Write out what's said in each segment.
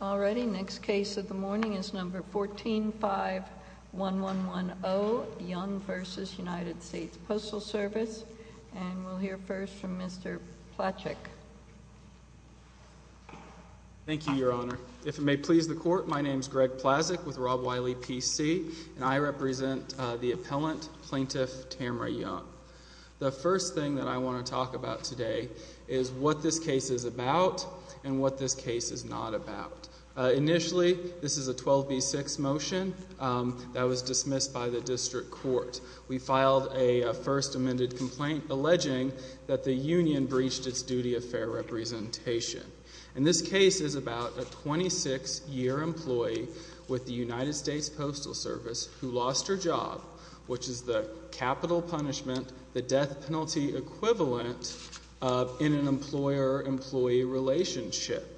1451110 Young v. United States Postal Service 12B6 motion, that was dismissed by the district court. We filed a first amended complaint alleging that the union breached its duty of fair representation. And this case is about a 26-year employee with the United States Postal Service who lost her job, which is the capital punishment, the death penalty equivalent in an employer-employee relationship.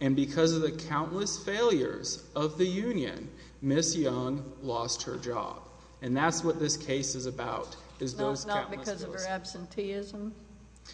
And because of the countless failures of the union, Ms. Young lost her job. And that's what this case is about, is those countless failures. Not because of her absenteeism?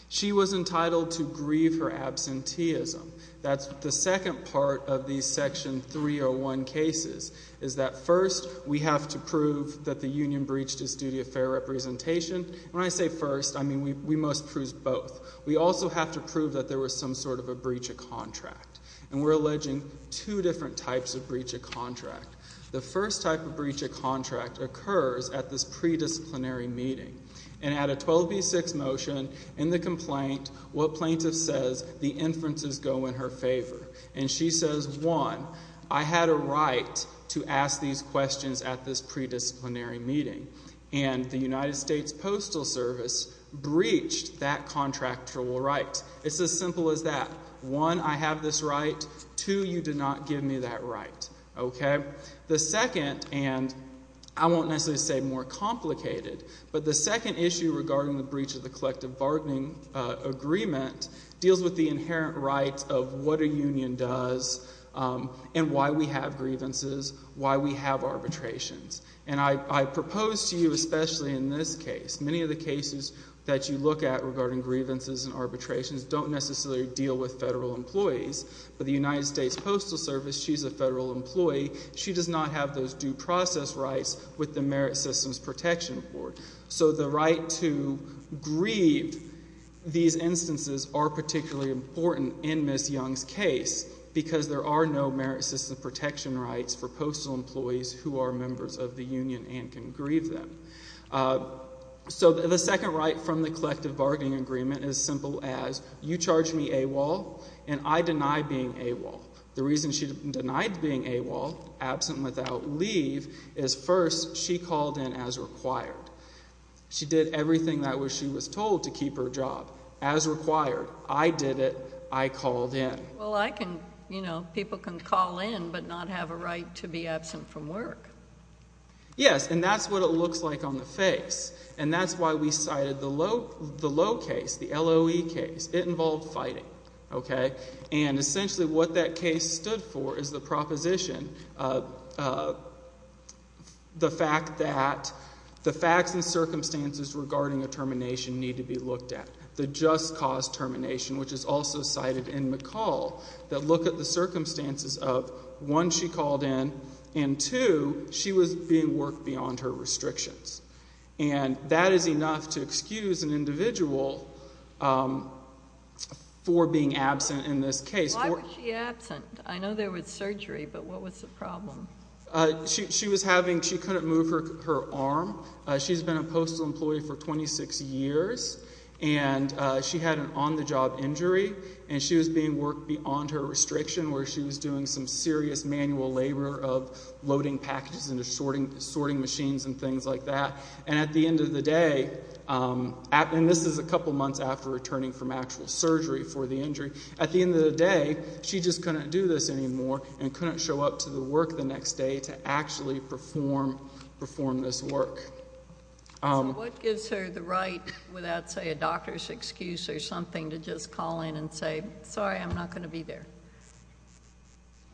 She was entitled to grieve her absenteeism. That's the second part of these Section 301 cases, is that first we have to prove that the union breached its duty of fair representation. When I say first, I mean we must prove both. We also have to prove that there was some sort of a breach of contract. And we're alleging two different types of breach of contract. The first type of breach of contract occurs at this predisciplinary meeting. And at a 12B6 motion in the complaint, what plaintiff says, the inferences go in her favor. And she says, one, I had a right to ask these questions at this predisciplinary meeting. And the United States Postal Service breached that contractual right. It's as simple as that. One, I have this right. Two, you did not give me that right. Okay? The second, and I won't necessarily say more complicated, but the second issue regarding the breach of the collective bargaining agreement deals with the inherent rights of what a union does and why we have grievances, why we have arbitrations. And I propose to you, especially in this case, many of the cases that you look at regarding grievances and arbitrations don't necessarily deal with federal employees. But the United States Postal Service, she's a federal employee. She does not have those due process rights with the Merit Systems Protection Board. So the right to grieve these instances are particularly important in Ms. Young's case because there are no merit system protection rights for postal employees who are members of the union and can grieve them. So the second right from the collective bargaining agreement is as simple as you charge me AWOL and I deny being AWOL. The reason she denied being AWOL, absent without leave, is first she called in as required. She did everything that she was told to keep her job as required. I did it. I called in. Well, I can, you know, people can call in but not have a right to be absent from work. Yes, and that's what it looks like on the face. And that's why we cited the low case, the LOE case. It involved fighting. Okay? And essentially what that case stood for is the proposition, the fact that the facts and circumstances regarding a termination need to be looked at. The just cause termination, which is also cited in McCall, that look at the circumstances of, one, she called in, and two, she was being worked beyond her restrictions. And that is enough to excuse an individual for being absent in this case. Why was she absent? I know there was surgery, but what was the problem? She was having, she couldn't move her arm. She's been a postal employee for 26 years, and she had an on-the-job injury, and she was being worked beyond her restriction where she was doing some serious manual labor of loading packages and assorting machines and things like that. And at the end of the day, and this is a couple months after returning from actual surgery for the injury, at the end of the day she just couldn't do this anymore and couldn't show up to the work the next day to actually perform this work. So what gives her the right without, say, a doctor's excuse or something to just call in and say, sorry, I'm not going to be there?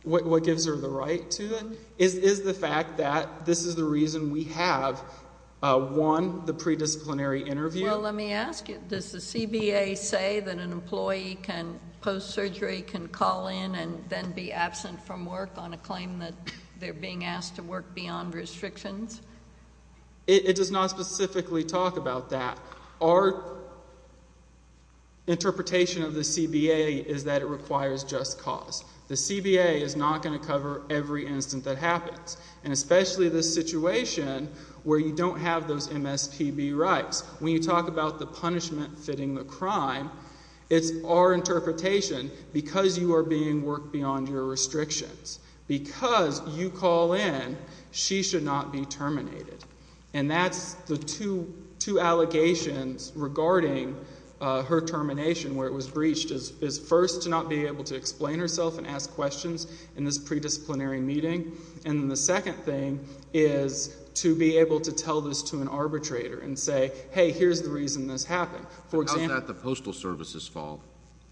What gives her the right to then? Is the fact that this is the reason we have, one, the predisciplinary interview? Well, let me ask you, does the CBA say that an employee can post-surgery can call in and then be absent from work on a claim that they're being asked to work beyond restrictions? It does not specifically talk about that. Our interpretation of the CBA is that it requires just cause. The CBA is not going to cover every incident that happens, and especially this situation where you don't have those MSPB rights. When you talk about the punishment fitting the crime, it's our interpretation, because you are being worked beyond your restrictions, because you call in, she should not be terminated. And that's the two allegations regarding her termination, where it was breached, is first to not be able to explain herself and ask questions in this predisciplinary meeting, and the second thing is to be able to tell this to an arbitrator and say, hey, here's the reason this happened. How is that the Postal Service's fault?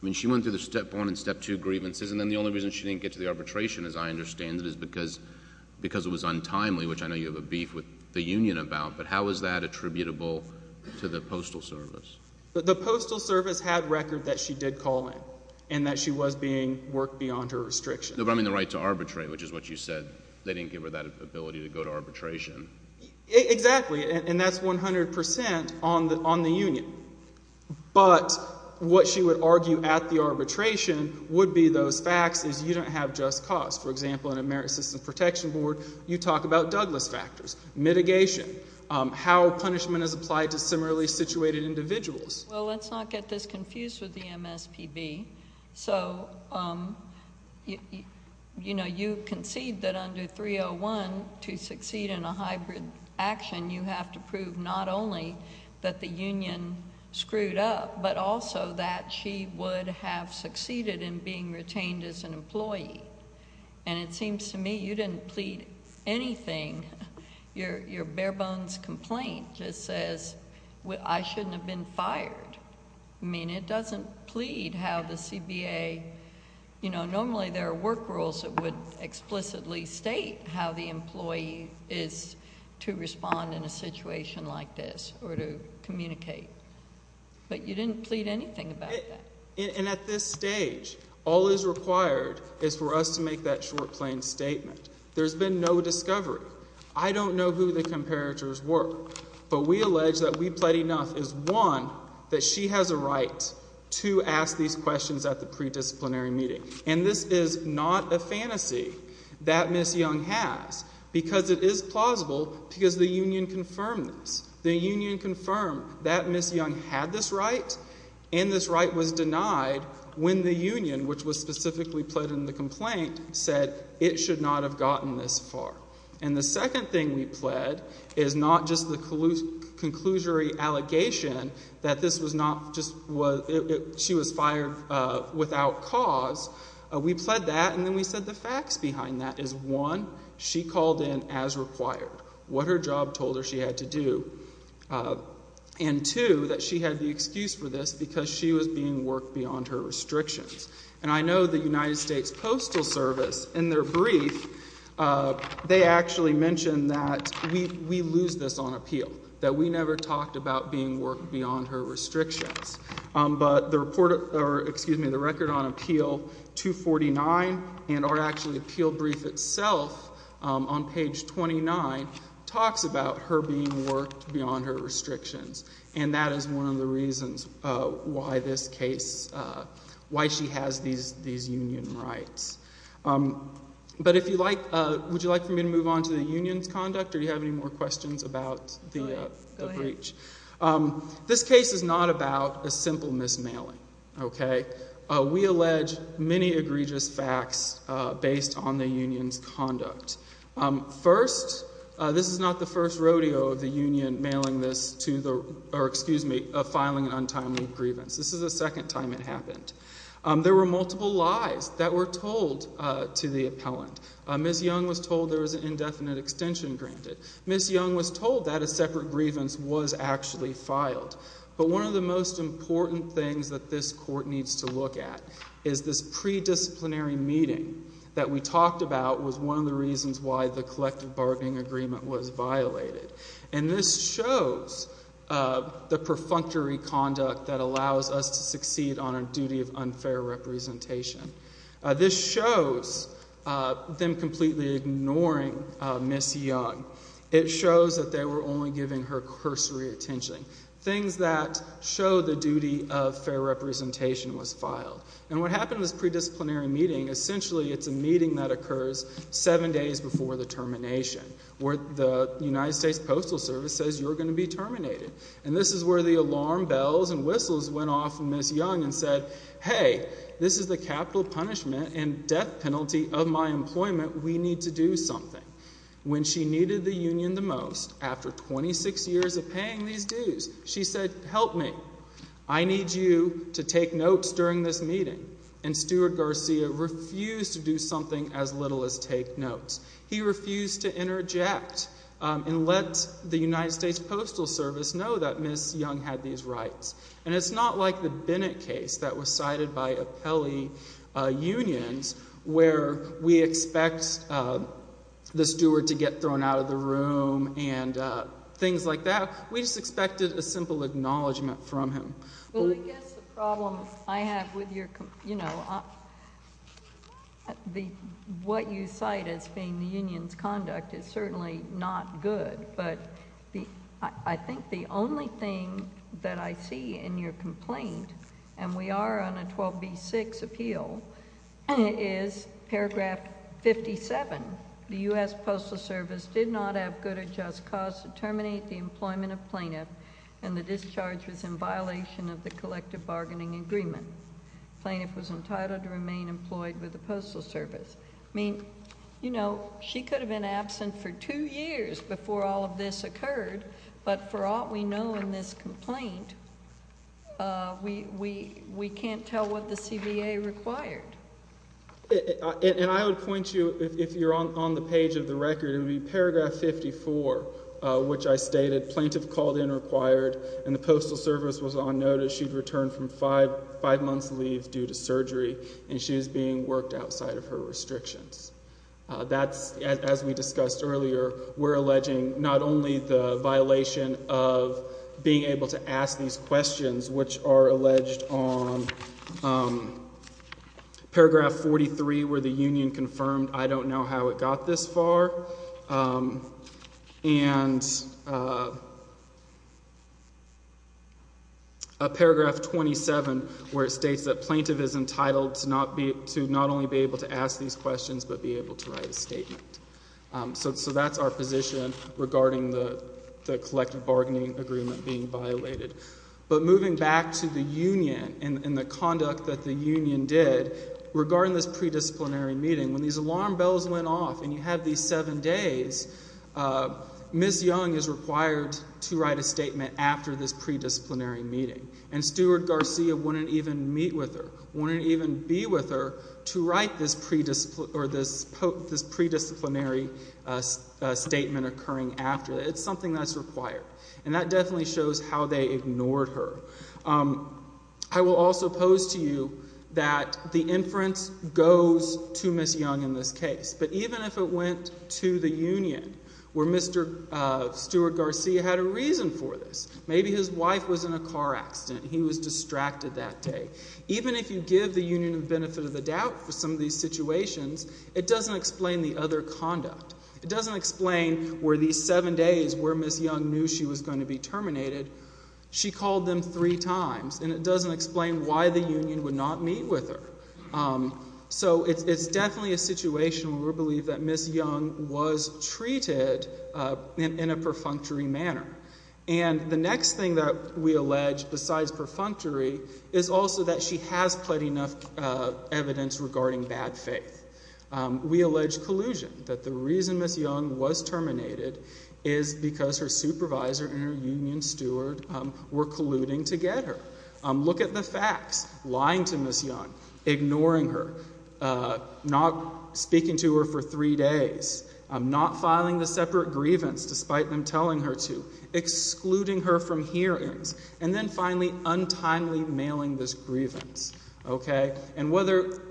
I mean, she went through the step one and step two grievances, and then the only reason she didn't get to the arbitration, as I understand it, is because it was untimely, which I know you have a beef with the union about, but how is that attributable to the Postal Service? The Postal Service had record that she did call in and that she was being worked beyond her restrictions. No, but I mean the right to arbitrate, which is what you said. They didn't give her that ability to go to arbitration. Exactly, and that's 100 percent on the union. But what she would argue at the arbitration would be those facts is you don't have just cause. For example, in a Merit System Protection Board, you talk about Douglas factors, mitigation, how punishment is applied to similarly situated individuals. Well, let's not get this confused with the MSPB. So, you know, you concede that under 301 to succeed in a hybrid action, you have to prove not only that the union screwed up, but also that she would have succeeded in being retained as an employee. And it seems to me you didn't plead anything. Your bare bones complaint just says I shouldn't have been fired. I mean, it doesn't plead how the CBA, you know, normally there are work rules that would explicitly state how the employee is to respond in a situation like this or to communicate. But you didn't plead anything about that. And at this stage, all that is required is for us to make that short, plain statement. There's been no discovery. I don't know who the comparators were, but we allege that we plead enough is, one, that she has a right to ask these questions at the pre-disciplinary meeting. And this is not a fantasy that Ms. Young has because it is plausible because the union confirmed this. The union confirmed that Ms. Young had this right, and this right was denied when the union, which was specifically pled in the complaint, said it should not have gotten this far. And the second thing we pled is not just the conclusory allegation that this was not just, she was fired without cause. We pled that, and then we said the facts behind that is, one, she called in as required. What her job told her she had to do. And, two, that she had the excuse for this because she was being worked beyond her restrictions. And I know the United States Postal Service, in their brief, they actually mention that we lose this on appeal. That we never talked about being worked beyond her restrictions. But the report, or excuse me, the record on appeal 249, and our actual appeal brief itself on page 29, talks about her being worked beyond her restrictions. And that is one of the reasons why this case, why she has these union rights. But if you like, would you like for me to move on to the union's conduct, or do you have any more questions about the breach? This case is not about a simple mismailing, okay? We allege many egregious facts based on the union's conduct. First, this is not the first rodeo of the union mailing this to the, or excuse me, filing an untimely grievance. This is the second time it happened. There were multiple lies that were told to the appellant. Ms. Young was told there was an indefinite extension granted. Ms. Young was told that a separate grievance was actually filed. But one of the most important things that this court needs to look at is this pre-disciplinary meeting that we talked about was one of the reasons why the collective bargaining agreement was violated. And this shows the perfunctory conduct that allows us to succeed on our duty of unfair representation. This shows them completely ignoring Ms. Young. It shows that they were only giving her cursory attention, things that show the duty of fair representation was filed. And what happened in this pre-disciplinary meeting, essentially it's a meeting that occurs seven days before the termination, where the United States Postal Service says you're going to be terminated. And this is where the alarm bells and whistles went off from Ms. Young and said, hey, this is the capital punishment and death penalty of my employment. We need to do something. When she needed the union the most, after 26 years of paying these dues, she said, help me. I need you to take notes during this meeting. And Stuart Garcia refused to do something as little as take notes. He refused to interject and let the United States Postal Service know that Ms. Young had these rights. And it's not like the Bennett case that was cited by Apelli Unions, where we expect the steward to get thrown out of the room and things like that. We just expected a simple acknowledgment from him. Well, I guess the problem I have with your, you know, what you cite as being the union's conduct is certainly not good. But I think the only thing that I see in your complaint, and we are on a 12B6 appeal, is paragraph 57. The U.S. Postal Service did not have good or just cause to terminate the employment of plaintiff and the discharge was in violation of the collective bargaining agreement. Plaintiff was entitled to remain employed with the Postal Service. I mean, you know, she could have been absent for two years before all of this occurred. But for all we know in this complaint, we can't tell what the CBA required. And I would point you, if you're on the page of the record, it would be paragraph 54, which I stated, Plaintiff called in required and the Postal Service was on notice. She had returned from five months' leave due to surgery, and she was being worked outside of her restrictions. That's, as we discussed earlier, we're alleging not only the violation of being able to ask these questions, which are alleged on paragraph 43, where the union confirmed, I don't know how it got this far, and paragraph 27, where it states that plaintiff is entitled to not only be able to ask these questions, but be able to write a statement. So that's our position regarding the collective bargaining agreement being violated. But moving back to the union and the conduct that the union did regarding this pre-disciplinary meeting, when these alarm bells went off and you had these seven days, Ms. Young is required to write a statement after this pre-disciplinary meeting. And Steward Garcia wouldn't even meet with her, wouldn't even be with her to write this pre-disciplinary statement occurring after. It's something that's required. And that definitely shows how they ignored her. I will also pose to you that the inference goes to Ms. Young in this case. But even if it went to the union where Mr. Steward Garcia had a reason for this, maybe his wife was in a car accident, he was distracted that day. Even if you give the union the benefit of the doubt for some of these situations, it doesn't explain the other conduct. It doesn't explain where these seven days where Ms. Young knew she was going to be terminated, she called them three times. And it doesn't explain why the union would not meet with her. So it's definitely a situation where we believe that Ms. Young was treated in a perfunctory manner. And the next thing that we allege besides perfunctory is also that she has pled enough evidence regarding bad faith. We allege collusion. That the reason Ms. Young was terminated is because her supervisor and her union steward were colluding to get her. Look at the facts. Lying to Ms. Young. Ignoring her. Not speaking to her for three days. Not filing the separate grievance despite them telling her to. Excluding her from hearings. And then finally untimely mailing this grievance. Okay? And whether,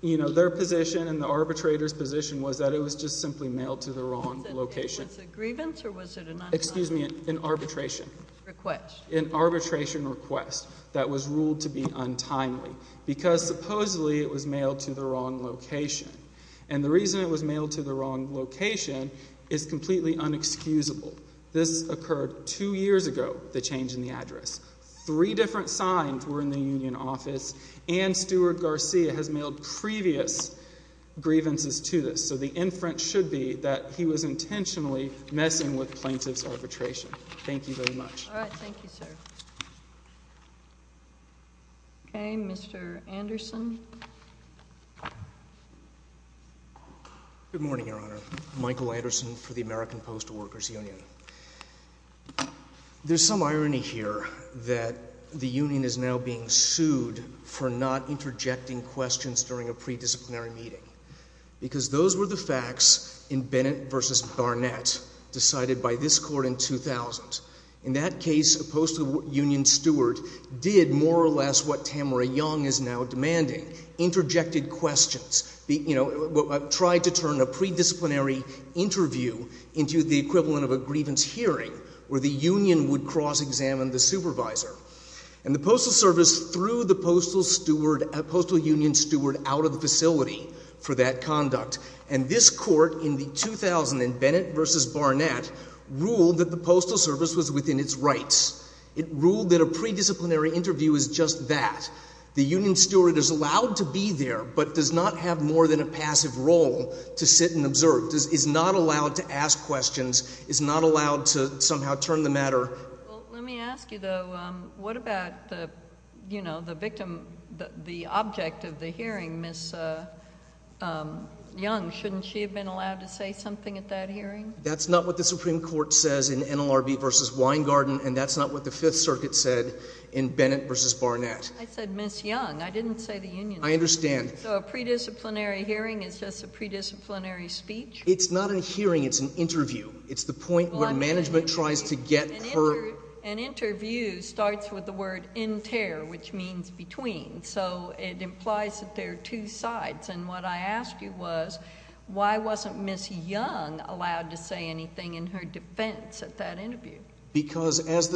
you know, their position and the arbitrator's position was that it was just simply mailed to the wrong location. Was it a grievance or was it an underline? Excuse me, an arbitration. Request. An arbitration request that was ruled to be untimely. Because supposedly it was mailed to the wrong location. And the reason it was mailed to the wrong location is completely unexcusable. This occurred two years ago, the change in the address. Three different signs were in the union office. And Steward Garcia has mailed previous grievances to this. So the inference should be that he was intentionally messing with plaintiff's arbitration. Thank you very much. All right, thank you, sir. Okay, Mr. Anderson. Good morning, Your Honor. Michael Anderson for the American Postal Workers Union. There's some irony here that the union is now being sued for not interjecting questions during a predisciplinary meeting. Because those were the facts in Bennett v. Barnett decided by this court in 2000. In that case, a postal union steward did more or less what Tamara Young is now demanding, interjected questions. Tried to turn a predisciplinary interview into the equivalent of a grievance hearing where the union would cross-examine the supervisor. And the postal service threw the postal union steward out of the facility for that conduct. And this court in the 2000 in Bennett v. Barnett ruled that the postal service was within its rights. It ruled that a predisciplinary interview is just that. The union steward is allowed to be there, but does not have more than a passive role to sit and observe. Is not allowed to ask questions. Is not allowed to somehow turn the matter. Well, let me ask you, though, what about the victim, the object of the hearing, Ms. Young? Shouldn't she have been allowed to say something at that hearing? That's not what the Supreme Court says in NLRB v. Weingarten. And that's not what the Fifth Circuit said in Bennett v. Barnett. I said Ms. Young. I didn't say the union steward. I understand. So a predisciplinary hearing is just a predisciplinary speech? It's not a hearing. It's an interview. It's the point where management tries to get her. An interview starts with the word inter, which means between. So it implies that there are two sides. And what I asked you was why wasn't Ms. Young allowed to say anything in her defense at that interview? Because she has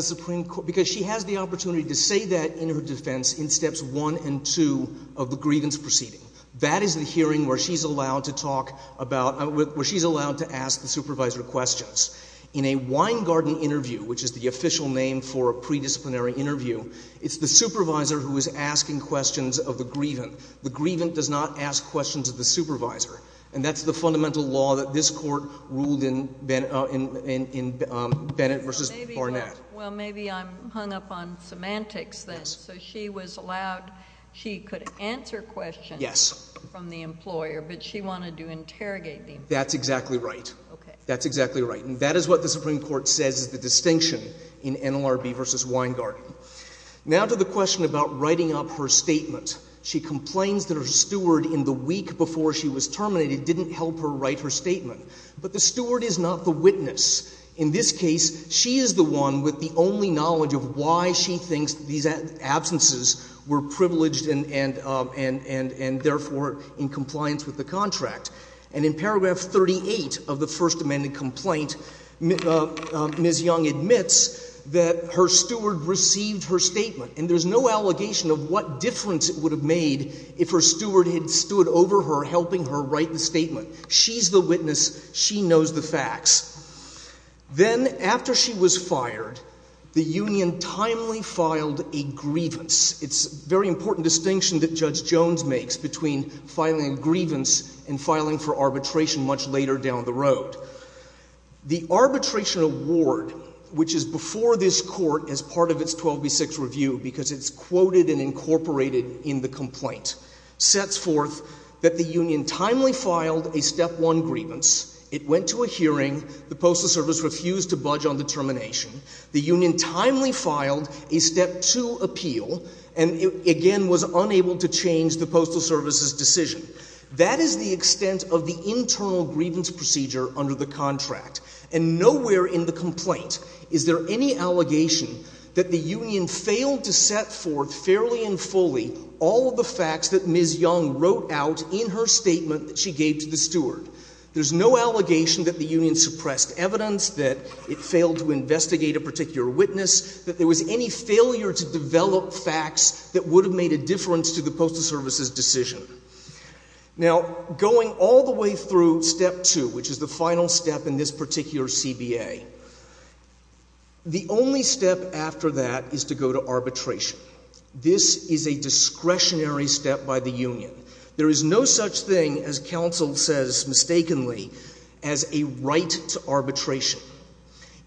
the opportunity to say that in her defense in steps one and two of the grievance proceeding. That is the hearing where she's allowed to talk about, where she's allowed to ask the supervisor questions. In a Weingarten interview, which is the official name for a predisciplinary interview, it's the supervisor who is asking questions of the grievant. The grievant does not ask questions of the supervisor. And that's the fundamental law that this court ruled in Bennett v. Barnett. Well, maybe I'm hung up on semantics then. So she was allowed, she could answer questions from the employer, but she wanted to interrogate the employer. That's exactly right. That's exactly right. And that is what the Supreme Court says is the distinction in NLRB v. Weingarten. Now to the question about writing up her statement. She complains that her steward in the week before she was terminated didn't help her write her statement. But the steward is not the witness. In this case, she is the one with the only knowledge of why she thinks these absences were privileged and therefore in compliance with the contract. And in paragraph 38 of the First Amendment complaint, Ms. Young admits that her steward received her statement. And there's no allegation of what difference it would have made if her steward had stood over her helping her write the statement. She's the witness. She knows the facts. Then after she was fired, the union timely filed a grievance. It's a very important distinction that Judge Jones makes between filing a grievance and filing for arbitration much later down the road. The arbitration award, which is before this court as part of its 12 v. 6 review because it's quoted and incorporated in the complaint, sets forth that the union timely filed a step one grievance. It went to a hearing. The Postal Service refused to budge on the termination. The union timely filed a step two appeal and again was unable to change the Postal Service's decision. That is the extent of the internal grievance procedure under the contract. And nowhere in the complaint is there any allegation that the union failed to set forth fairly and fully all of the facts that Ms. Young wrote out in her statement that she gave to the steward. There's no allegation that the union suppressed evidence, that it failed to investigate a particular witness, that there was any failure to develop facts that would have made a difference to the Postal Service's decision. Now, going all the way through step two, which is the final step in this particular CBA, the only step after that is to go to arbitration. This is a discretionary step by the union. There is no such thing, as counsel says mistakenly, as a right to arbitration.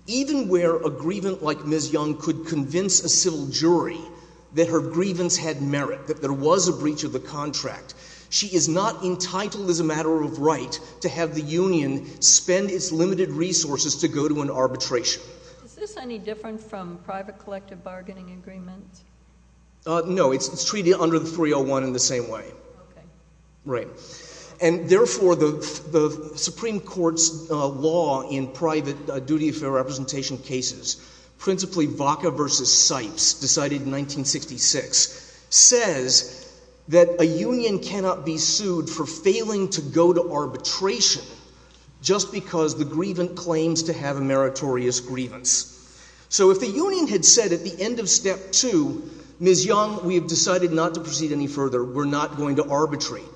Even where a grievance like Ms. Young could convince a civil jury that her grievance had merit, that there was a breach of the contract, she is not entitled as a matter of right to have the union spend its limited resources to go to an arbitration. Is this any different from private collective bargaining agreements? No, it's treated under the 301 in the same way. Okay. Right. And therefore, the Supreme Court's law in private duty of fair representation cases, principally Vaca v. Sipes, decided in 1966, says that a union cannot be sued for failing to go to arbitration just because the grievant claims to have a meritorious grievance. So if the union had said at the end of step two, Ms. Young, we have decided not to proceed any further, we're not going to arbitrate,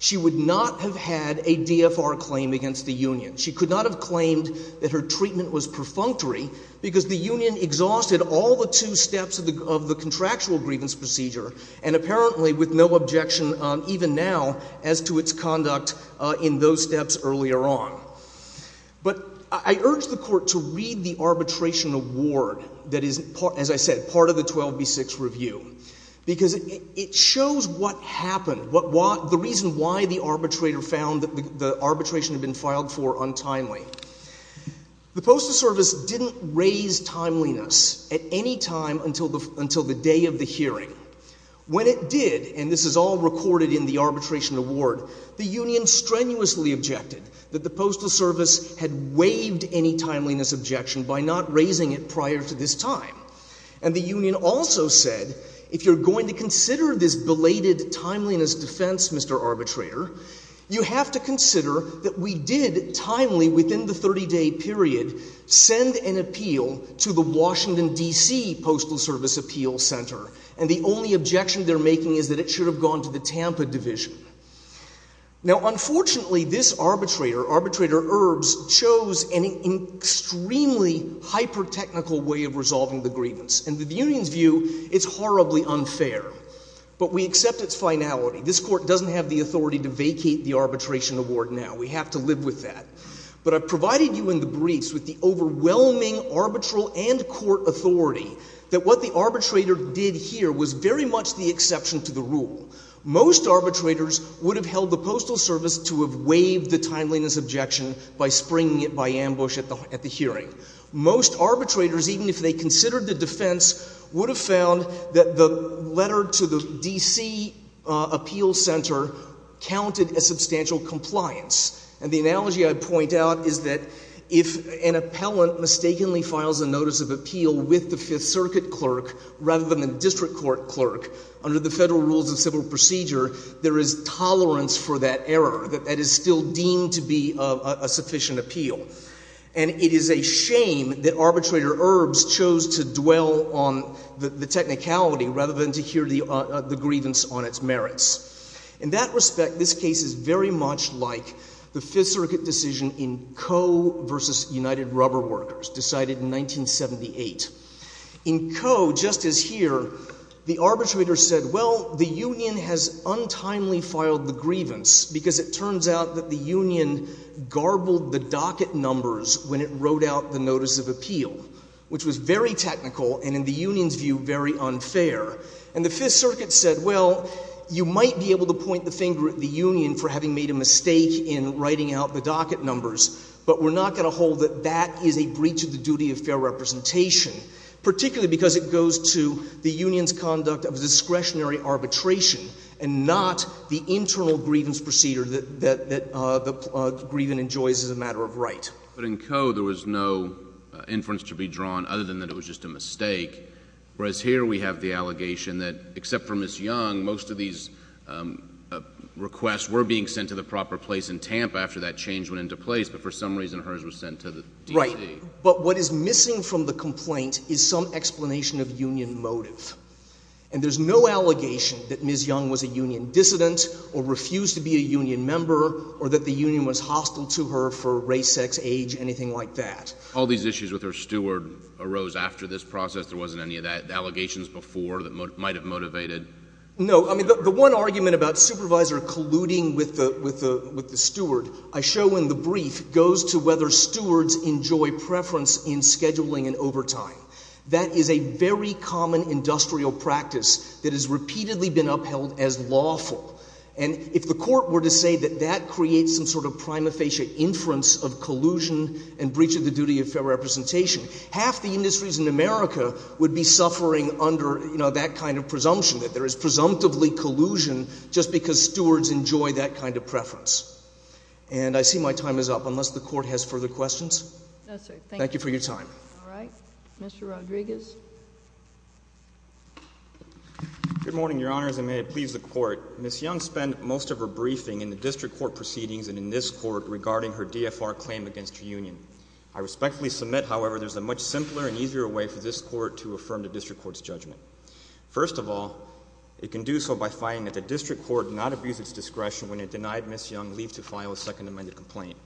she would not have had a DFR claim against the union. She could not have claimed that her treatment was perfunctory because the union exhausted all the two steps of the contractual grievance procedure and apparently with no objection even now as to its conduct in those steps earlier on. But I urge the Court to read the arbitration award that is, as I said, part of the 12B6 review, because it shows what happened, the reason why the arbitrator found that the arbitration had been filed for untimely. The Postal Service didn't raise timeliness at any time until the day of the hearing. When it did, and this is all recorded in the arbitration award, the union strenuously objected that the Postal Service had waived any timeliness objection by not raising it prior to this time. And the union also said, if you're going to consider this belated timeliness defense, Mr. Arbitrator, you have to consider that we did timely within the 30-day period send an appeal to the Washington, D.C. Postal Service Appeal Center and the only objection they're making is that it should have gone to the Tampa division. Now, unfortunately, this arbitrator, Arbitrator Erbs, chose an extremely hyper-technical way of resolving the grievance. And the union's view, it's horribly unfair. But we accept its finality. This Court doesn't have the authority to vacate the arbitration award now. We have to live with that. But I provided you in the briefs with the overwhelming arbitral and court authority that what the arbitrator did here was very much the exception to the rule. Most arbitrators would have held the Postal Service to have waived the timeliness objection by springing it by ambush at the hearing. Most arbitrators, even if they considered the defense, would have found that the letter to the D.C. Appeal Center counted as substantial compliance. And the analogy I point out is that if an appellant mistakenly files a notice of appeal with the Fifth Circuit clerk rather than the district court clerk, under the federal rules of civil procedure, there is tolerance for that error. That is still deemed to be a sufficient appeal. And it is a shame that Arbitrator Erbs chose to dwell on the technicality rather than to hear the grievance on its merits. In that respect, this case is very much like the Fifth Circuit decision in Coe v. United Rubber Workers, decided in 1978. In Coe, just as here, the arbitrator said, well, the union has untimely filed the grievance because it turns out that the union garbled the docket numbers when it wrote out the notice of appeal, which was very technical and, in the union's view, very unfair. And the Fifth Circuit said, well, you might be able to point the finger at the union for having made a mistake in writing out the docket numbers, but we're not going to hold that that is a breach of the duty of fair representation, particularly because it goes to the union's conduct of discretionary arbitration and not the internal grievance procedure that the grievant enjoys as a matter of right. But in Coe, there was no inference to be drawn other than that it was just a mistake, whereas here we have the allegation that, except for Ms. Young, most of these requests were being sent to the proper place in Tampa after that change went into place, but for some reason hers was sent to the DCA. Right. But what is missing from the complaint is some explanation of union motive. And there's no allegation that Ms. Young was a union dissident or refused to be a union member or that the union was hostile to her for race, sex, age, anything like that. All these issues with her steward arose after this process? There wasn't any of that, allegations before that might have motivated? No. I mean, the one argument about supervisor colluding with the steward I show in the brief goes to whether stewards enjoy preference in scheduling and overtime. That is a very common industrial practice that has repeatedly been upheld as lawful. And if the Court were to say that that creates some sort of prima facie inference of collusion and breach of the duty of fair representation, half the industries in America would be suffering under, you know, that kind of presumption, that there is presumptively collusion just because stewards enjoy that kind of preference. And I see my time is up, unless the Court has further questions. No, sir. Thank you. Thank you for your time. All right. Mr. Rodriguez. Good morning, Your Honors, and may it please the Court. Ms. Young spent most of her briefing in the district court proceedings and in this court regarding her DFR claim against her union. I respectfully submit, however, there is a much simpler and easier way for this court to affirm the district court's judgment. First of all, it can do so by finding that the district court did not abuse its discretion when it denied Ms. Young leave to file a second amended complaint.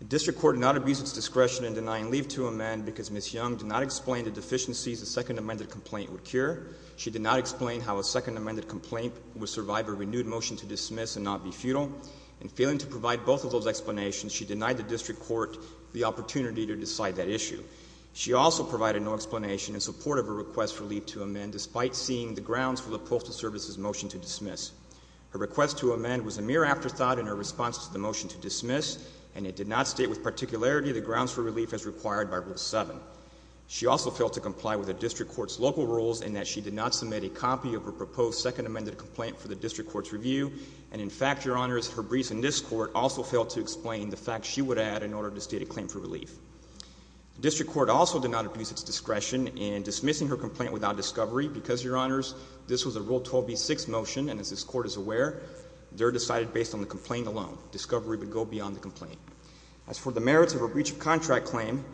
The district court did not abuse its discretion in denying leave to amend because Ms. Young did not explain the deficiencies a second amended complaint would cure. She did not explain how a second amended complaint would survive a renewed motion to dismiss and not be futile. In failing to provide both of those explanations, she denied the district court the opportunity to decide that issue. She also provided no explanation in support of her request for leave to amend, despite seeing the grounds for the Postal Service's motion to dismiss. Her request to amend was a mere afterthought in her response to the motion to dismiss, and it did not state with particularity the grounds for relief as required by Rule 7. She also failed to comply with the district court's local rules in that she did not submit a copy of her proposed second amended complaint for the district court's review, and in fact, Your Honors, her briefs in this court also failed to explain the facts she would add in order to state a claim for relief. The district court also did not abuse its discretion in dismissing her complaint without discovery because, Your Honors, this was a Rule 12b6 motion, and as this court is aware, they're decided based on the complaint alone. Discovery would go beyond the complaint. As for the merits of a breach of contract claim,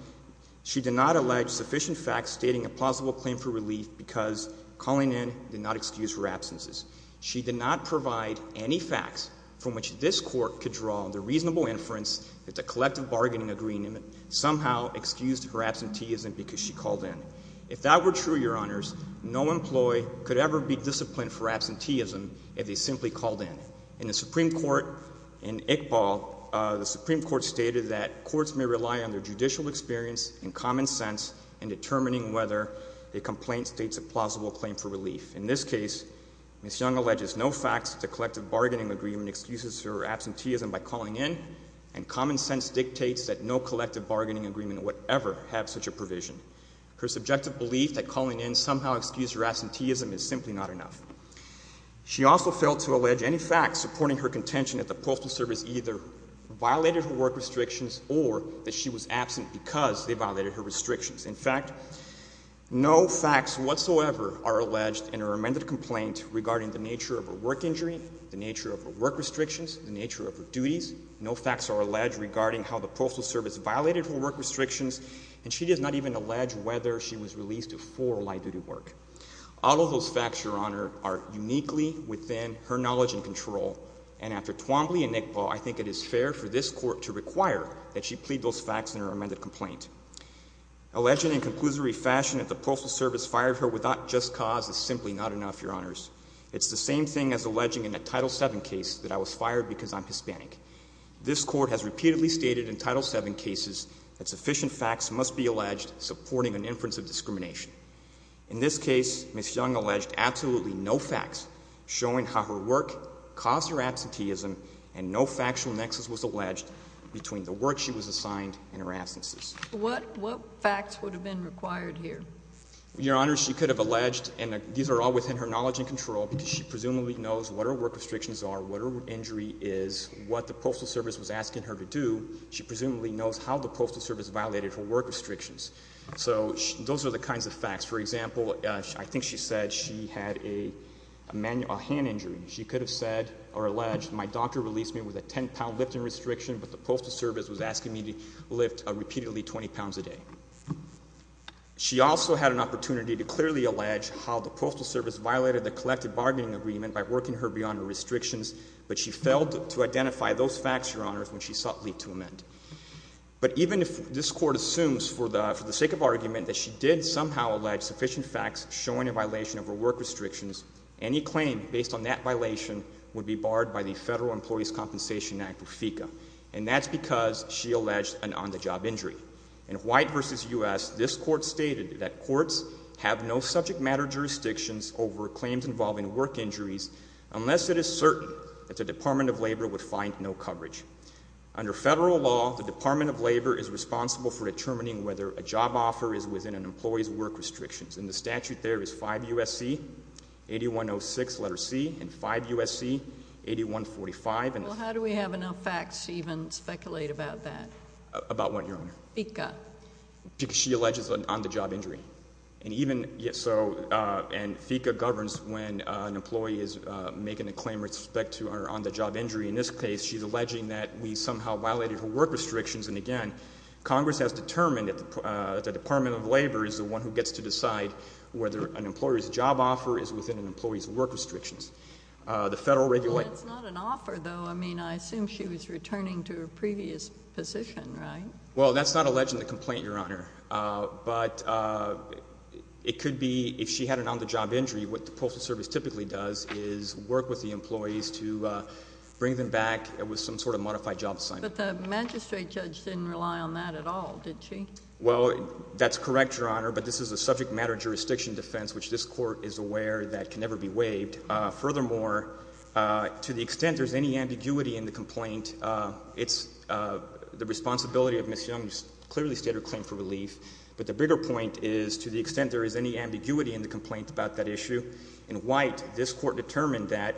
she did not allege sufficient facts stating a possible claim for relief because calling in did not excuse her absences. She did not provide any facts from which this court could draw the reasonable inference that the collective bargaining agreement somehow excused her absenteeism because she called in. If that were true, Your Honors, no employee could ever be disciplined for absenteeism if they simply called in. In the Supreme Court, in Iqbal, the Supreme Court stated that courts may rely on their judicial experience and common sense in determining whether a complaint states a plausible claim for relief. In this case, Ms. Young alleges no facts that the collective bargaining agreement excuses her absenteeism by calling in, and common sense dictates that no collective bargaining agreement would ever have such a provision. Her subjective belief that calling in somehow excused her absenteeism is simply not enough. She also failed to allege any facts supporting her contention that the Postal Service either violated her work restrictions or that she was absent because they violated her restrictions. In fact, no facts whatsoever are alleged in her amended complaint regarding the nature of her work injury, the nature of her work restrictions, the nature of her duties. No facts are alleged regarding how the Postal Service violated her work restrictions, and she does not even allege whether she was released before light-duty work. All of those facts, Your Honor, are uniquely within her knowledge and control, and after Twombly and Iqbal, I think it is fair for this Court to require that she plead those facts in her amended complaint. Alleging in conclusory fashion that the Postal Service fired her without just cause is simply not enough, Your Honors. It's the same thing as alleging in a Title VII case that I was fired because I'm Hispanic. This Court has repeatedly stated in Title VII cases that sufficient facts must be alleged supporting an inference of discrimination. In this case, Ms. Young alleged absolutely no facts showing how her work caused her absenteeism and no factual nexus was alleged between the work she was assigned and her absences. What facts would have been required here? Your Honor, she could have alleged, and these are all within her knowledge and control because she presumably knows what her work restrictions are, what her injury is, what the Postal Service was asking her to do. She presumably knows how the Postal Service violated her work restrictions. So those are the kinds of facts. For example, I think she said she had a hand injury. She could have said or alleged my doctor released me with a 10-pound lifting restriction, but the Postal Service was asking me to lift repeatedly 20 pounds a day. She also had an opportunity to clearly allege how the Postal Service violated the collective bargaining agreement by working her beyond her restrictions, but she failed to identify those facts, Your Honor, when she sought leave to amend. But even if this Court assumes for the sake of argument that she did somehow allege sufficient facts showing a violation of her work restrictions, any claim based on that violation would be barred by the Federal Employees' Compensation Act, or FECA. And that's because she alleged an on-the-job injury. In White v. U.S., this Court stated that courts have no subject matter jurisdictions over claims involving work injuries unless it is certain that the Department of Labor would find no coverage. Under Federal law, the Department of Labor is responsible for determining whether a job offer is within an employee's work restrictions. And the statute there is 5 U.S.C. 8106, letter C, and 5 U.S.C. 8145. Well, how do we have enough facts to even speculate about that? About what, Your Honor? FECA. Because she alleges an on-the-job injury. And even so, and FECA governs when an employee is making a claim with respect to her on-the-job injury. In this case, she's alleging that we somehow violated her work restrictions. And, again, Congress has determined that the Department of Labor is the one who gets to decide whether an employer's job offer is within an employee's work restrictions. The Federal regulator— Well, that's not alleging the complaint, Your Honor. But it could be, if she had an on-the-job injury, what the Postal Service typically does is work with the employees to bring them back with some sort of modified job assignment. But the magistrate judge didn't rely on that at all, did she? Well, that's correct, Your Honor. But this is a subject matter jurisdiction defense, which this court is aware that can never be waived. Furthermore, to the extent there's any ambiguity in the complaint, it's the responsibility of Ms. Young to clearly state her claim for relief. But the bigger point is, to the extent there is any ambiguity in the complaint about that issue, in White, this court determined that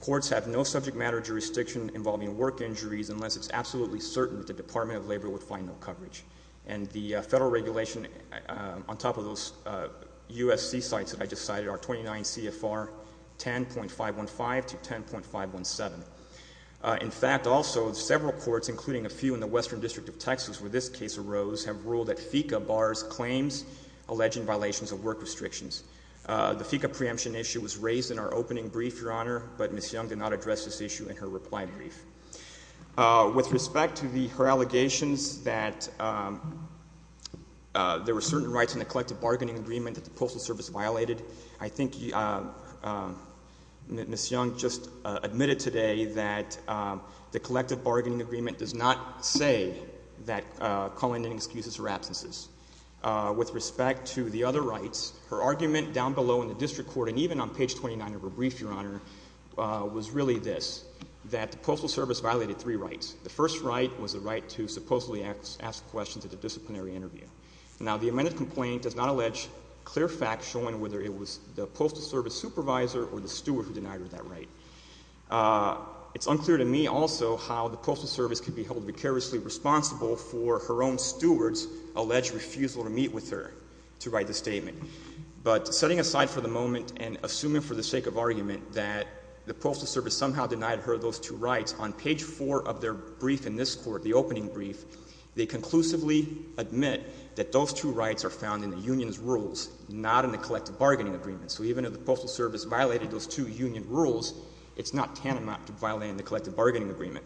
courts have no subject matter jurisdiction involving work injuries unless it's absolutely certain that the Department of Labor would find no coverage. And the Federal regulation on top of those USC sites that I just cited are 29 CFR 10.515 to 10.517. In fact, also, several courts, including a few in the Western District of Texas where this case arose, have ruled that FECA bars claims alleging violations of work restrictions. The FECA preemption issue was raised in our opening brief, Your Honor, but Ms. Young did not address this issue in her reply brief. With respect to her allegations that there were certain rights in the collective bargaining agreement that the Postal Service violated, I think Ms. Young just admitted today that the collective bargaining agreement does not say that calling in excuses or absences. With respect to the other rights, her argument down below in the district court, and even on page 29 of her brief, Your Honor, was really this, that the Postal Service violated three rights. The first right was the right to supposedly ask questions at a disciplinary interview. Now, the amended complaint does not allege clear facts showing whether it was the Postal Service supervisor or the steward who denied her that right. It's unclear to me also how the Postal Service could be held vicariously responsible for her own steward's alleged refusal to meet with her to write the statement. But setting aside for the moment and assuming for the sake of argument that the Postal Service somehow denied her those two rights, on page 4 of their brief in this court, the opening brief, they conclusively admit that those two rights are found in the union's rules, not in the collective bargaining agreement. So even if the Postal Service violated those two union rules, it's not tantamount to violating the collective bargaining agreement.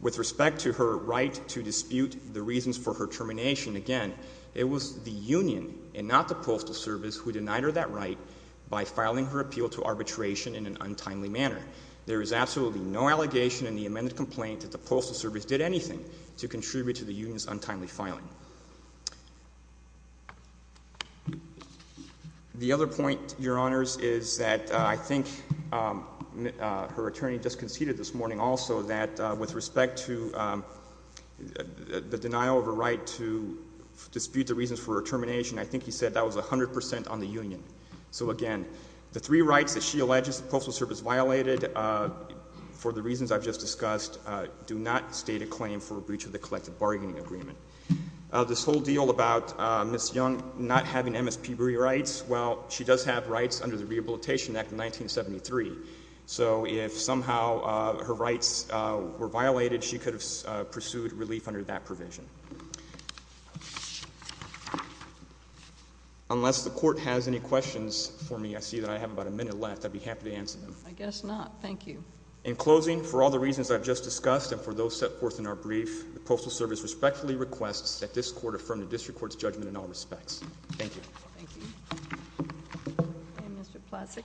With respect to her right to dispute the reasons for her termination, again, it was the union and not the Postal Service who denied her that right by filing her appeal to arbitration in an untimely manner. There is absolutely no allegation in the amended complaint that the Postal Service did anything to contribute to the union's untimely filing. The other point, Your Honors, is that I think her attorney just conceded this morning also that with respect to the denial of her right to dispute the reasons for her termination, I think he said that was 100% on the union. So, again, the three rights that she alleges the Postal Service violated, for the reasons I've just discussed, do not state a claim for breach of the collective bargaining agreement. This whole deal about Ms. Young not having MSPBRI rights, well, she does have rights under the Rehabilitation Act of 1973. So if somehow her rights were violated, she could have pursued relief under that provision. Unless the Court has any questions for me, I see that I have about a minute left. I'd be happy to answer them. I guess not. Thank you. In closing, for all the reasons I've just discussed and for those set forth in our brief, the Postal Service respectfully requests that this Court affirm the district court's judgment in all respects. Thank you. Thank you. Mr. Plasek.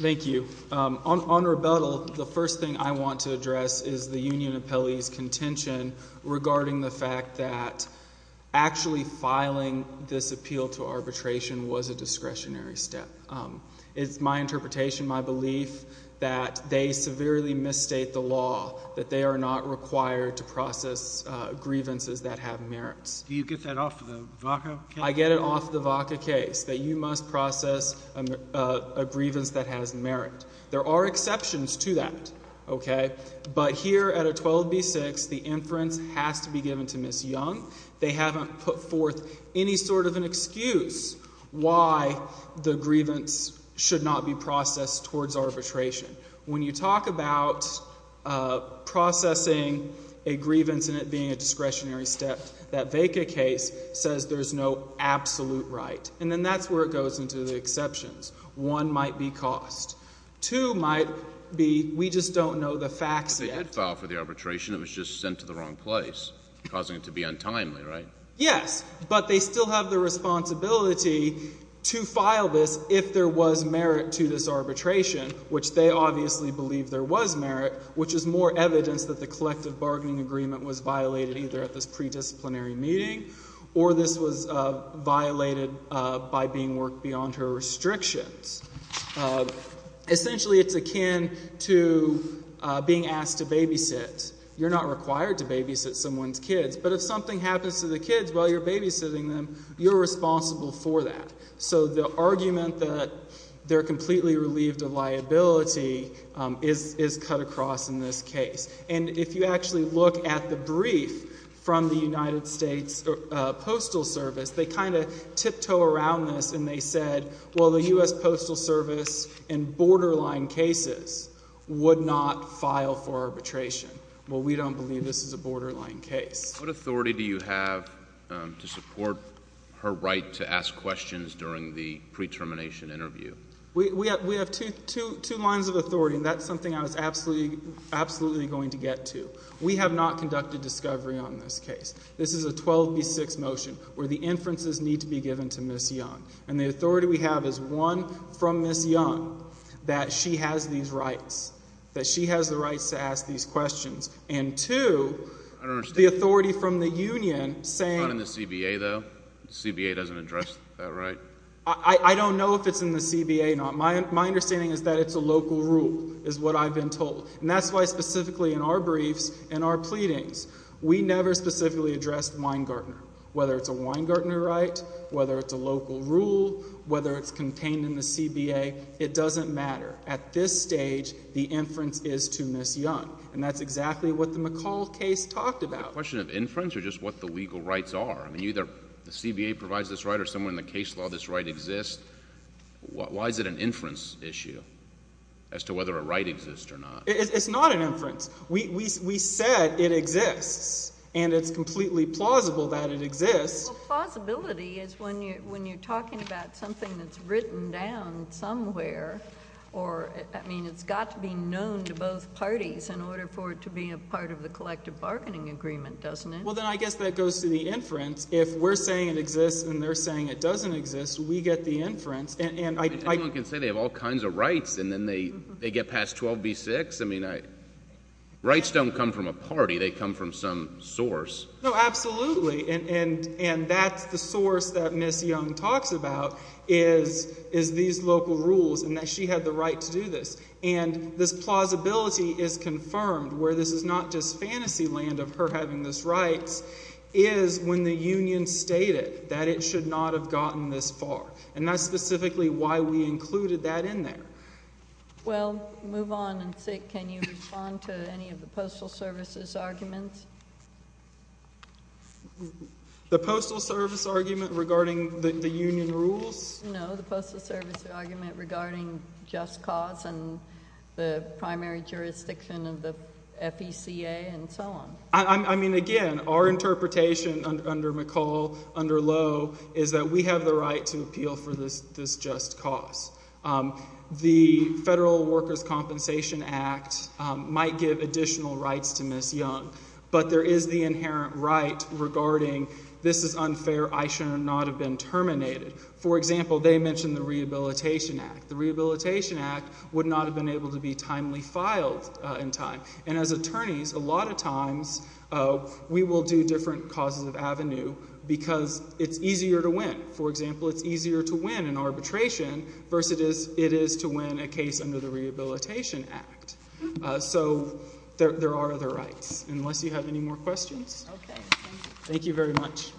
Thank you. On rebuttal, the first thing I want to address is the union appellee's contention regarding the fact that actually filing this appeal to arbitration was a discretionary step. It's my interpretation, my belief, that they severely misstate the law, that they are not required to process grievances that have merits. Do you get that off the VACA case? I get it off the VACA case, that you must process a grievance that has merit. There are exceptions to that, okay? But here at a 12B6, the inference has to be given to Ms. Young. They haven't put forth any sort of an excuse why the grievance should not be processed towards arbitration. When you talk about processing a grievance and it being a discretionary step, that VACA case says there's no absolute right. And then that's where it goes into the exceptions. One might be cost. Two might be we just don't know the facts yet. But they did file for the arbitration. It was just sent to the wrong place, causing it to be untimely, right? Yes, but they still have the responsibility to file this if there was merit to this arbitration, which they obviously believe there was merit, which is more evidence that the collective bargaining agreement was violated either at this predisciplinary meeting or this was violated by being worked beyond her restrictions. Essentially, it's akin to being asked to babysit. You're not required to babysit someone's kids. But if something happens to the kids while you're babysitting them, you're responsible for that. So the argument that they're completely relieved of liability is cut across in this case. And if you actually look at the brief from the United States Postal Service, they kind of tiptoe around this and they said, well, the U.S. Postal Service in borderline cases would not file for arbitration. Well, we don't believe this is a borderline case. What authority do you have to support her right to ask questions during the pre-termination interview? We have two lines of authority, and that's something I was absolutely going to get to. We have not conducted discovery on this case. This is a 12B6 motion where the inferences need to be given to Ms. Young. And the authority we have is, one, from Ms. Young that she has these rights, that she has the rights to ask these questions, and, two, the authority from the union saying— It's not in the CBA, though? The CBA doesn't address that right? I don't know if it's in the CBA or not. My understanding is that it's a local rule is what I've been told. And that's why specifically in our briefs and our pleadings, we never specifically addressed Weingartner. Whether it's a Weingartner right, whether it's a local rule, whether it's contained in the CBA, it doesn't matter. At this stage, the inference is to Ms. Young. And that's exactly what the McCall case talked about. The question of inference or just what the legal rights are? I mean, either the CBA provides this right or somewhere in the case law this right exists. Why is it an inference issue as to whether a right exists or not? It's not an inference. We said it exists, and it's completely plausible that it exists. Well, plausibility is when you're talking about something that's written down somewhere. I mean, it's got to be known to both parties in order for it to be a part of the collective bargaining agreement, doesn't it? Well, then I guess that goes to the inference. If we're saying it exists and they're saying it doesn't exist, we get the inference. Anyone can say they have all kinds of rights, and then they get past 12b-6. Rights don't come from a party. They come from some source. No, absolutely. And that's the source that Ms. Young talks about is these local rules and that she had the right to do this. And this plausibility is confirmed where this is not just fantasy land of her having these rights, is when the union stated that it should not have gotten this far. And that's specifically why we included that in there. Well, move on and, Sig, can you respond to any of the Postal Service's arguments? The Postal Service argument regarding the union rules? No, the Postal Service argument regarding just cause and the primary jurisdiction of the FECA and so on. I mean, again, our interpretation under McCall, under Lowe, is that we have the right to appeal for this just cause. The Federal Workers' Compensation Act might give additional rights to Ms. Young, but there is the inherent right regarding this is unfair, I should not have been terminated. For example, they mentioned the Rehabilitation Act. The Rehabilitation Act would not have been able to be timely filed in time. And as attorneys, a lot of times we will do different causes of avenue because it's easier to win. For example, it's easier to win an arbitration versus it is to win a case under the Rehabilitation Act. So there are other rights. Unless you have any more questions? Okay, thank you. Thank you very much.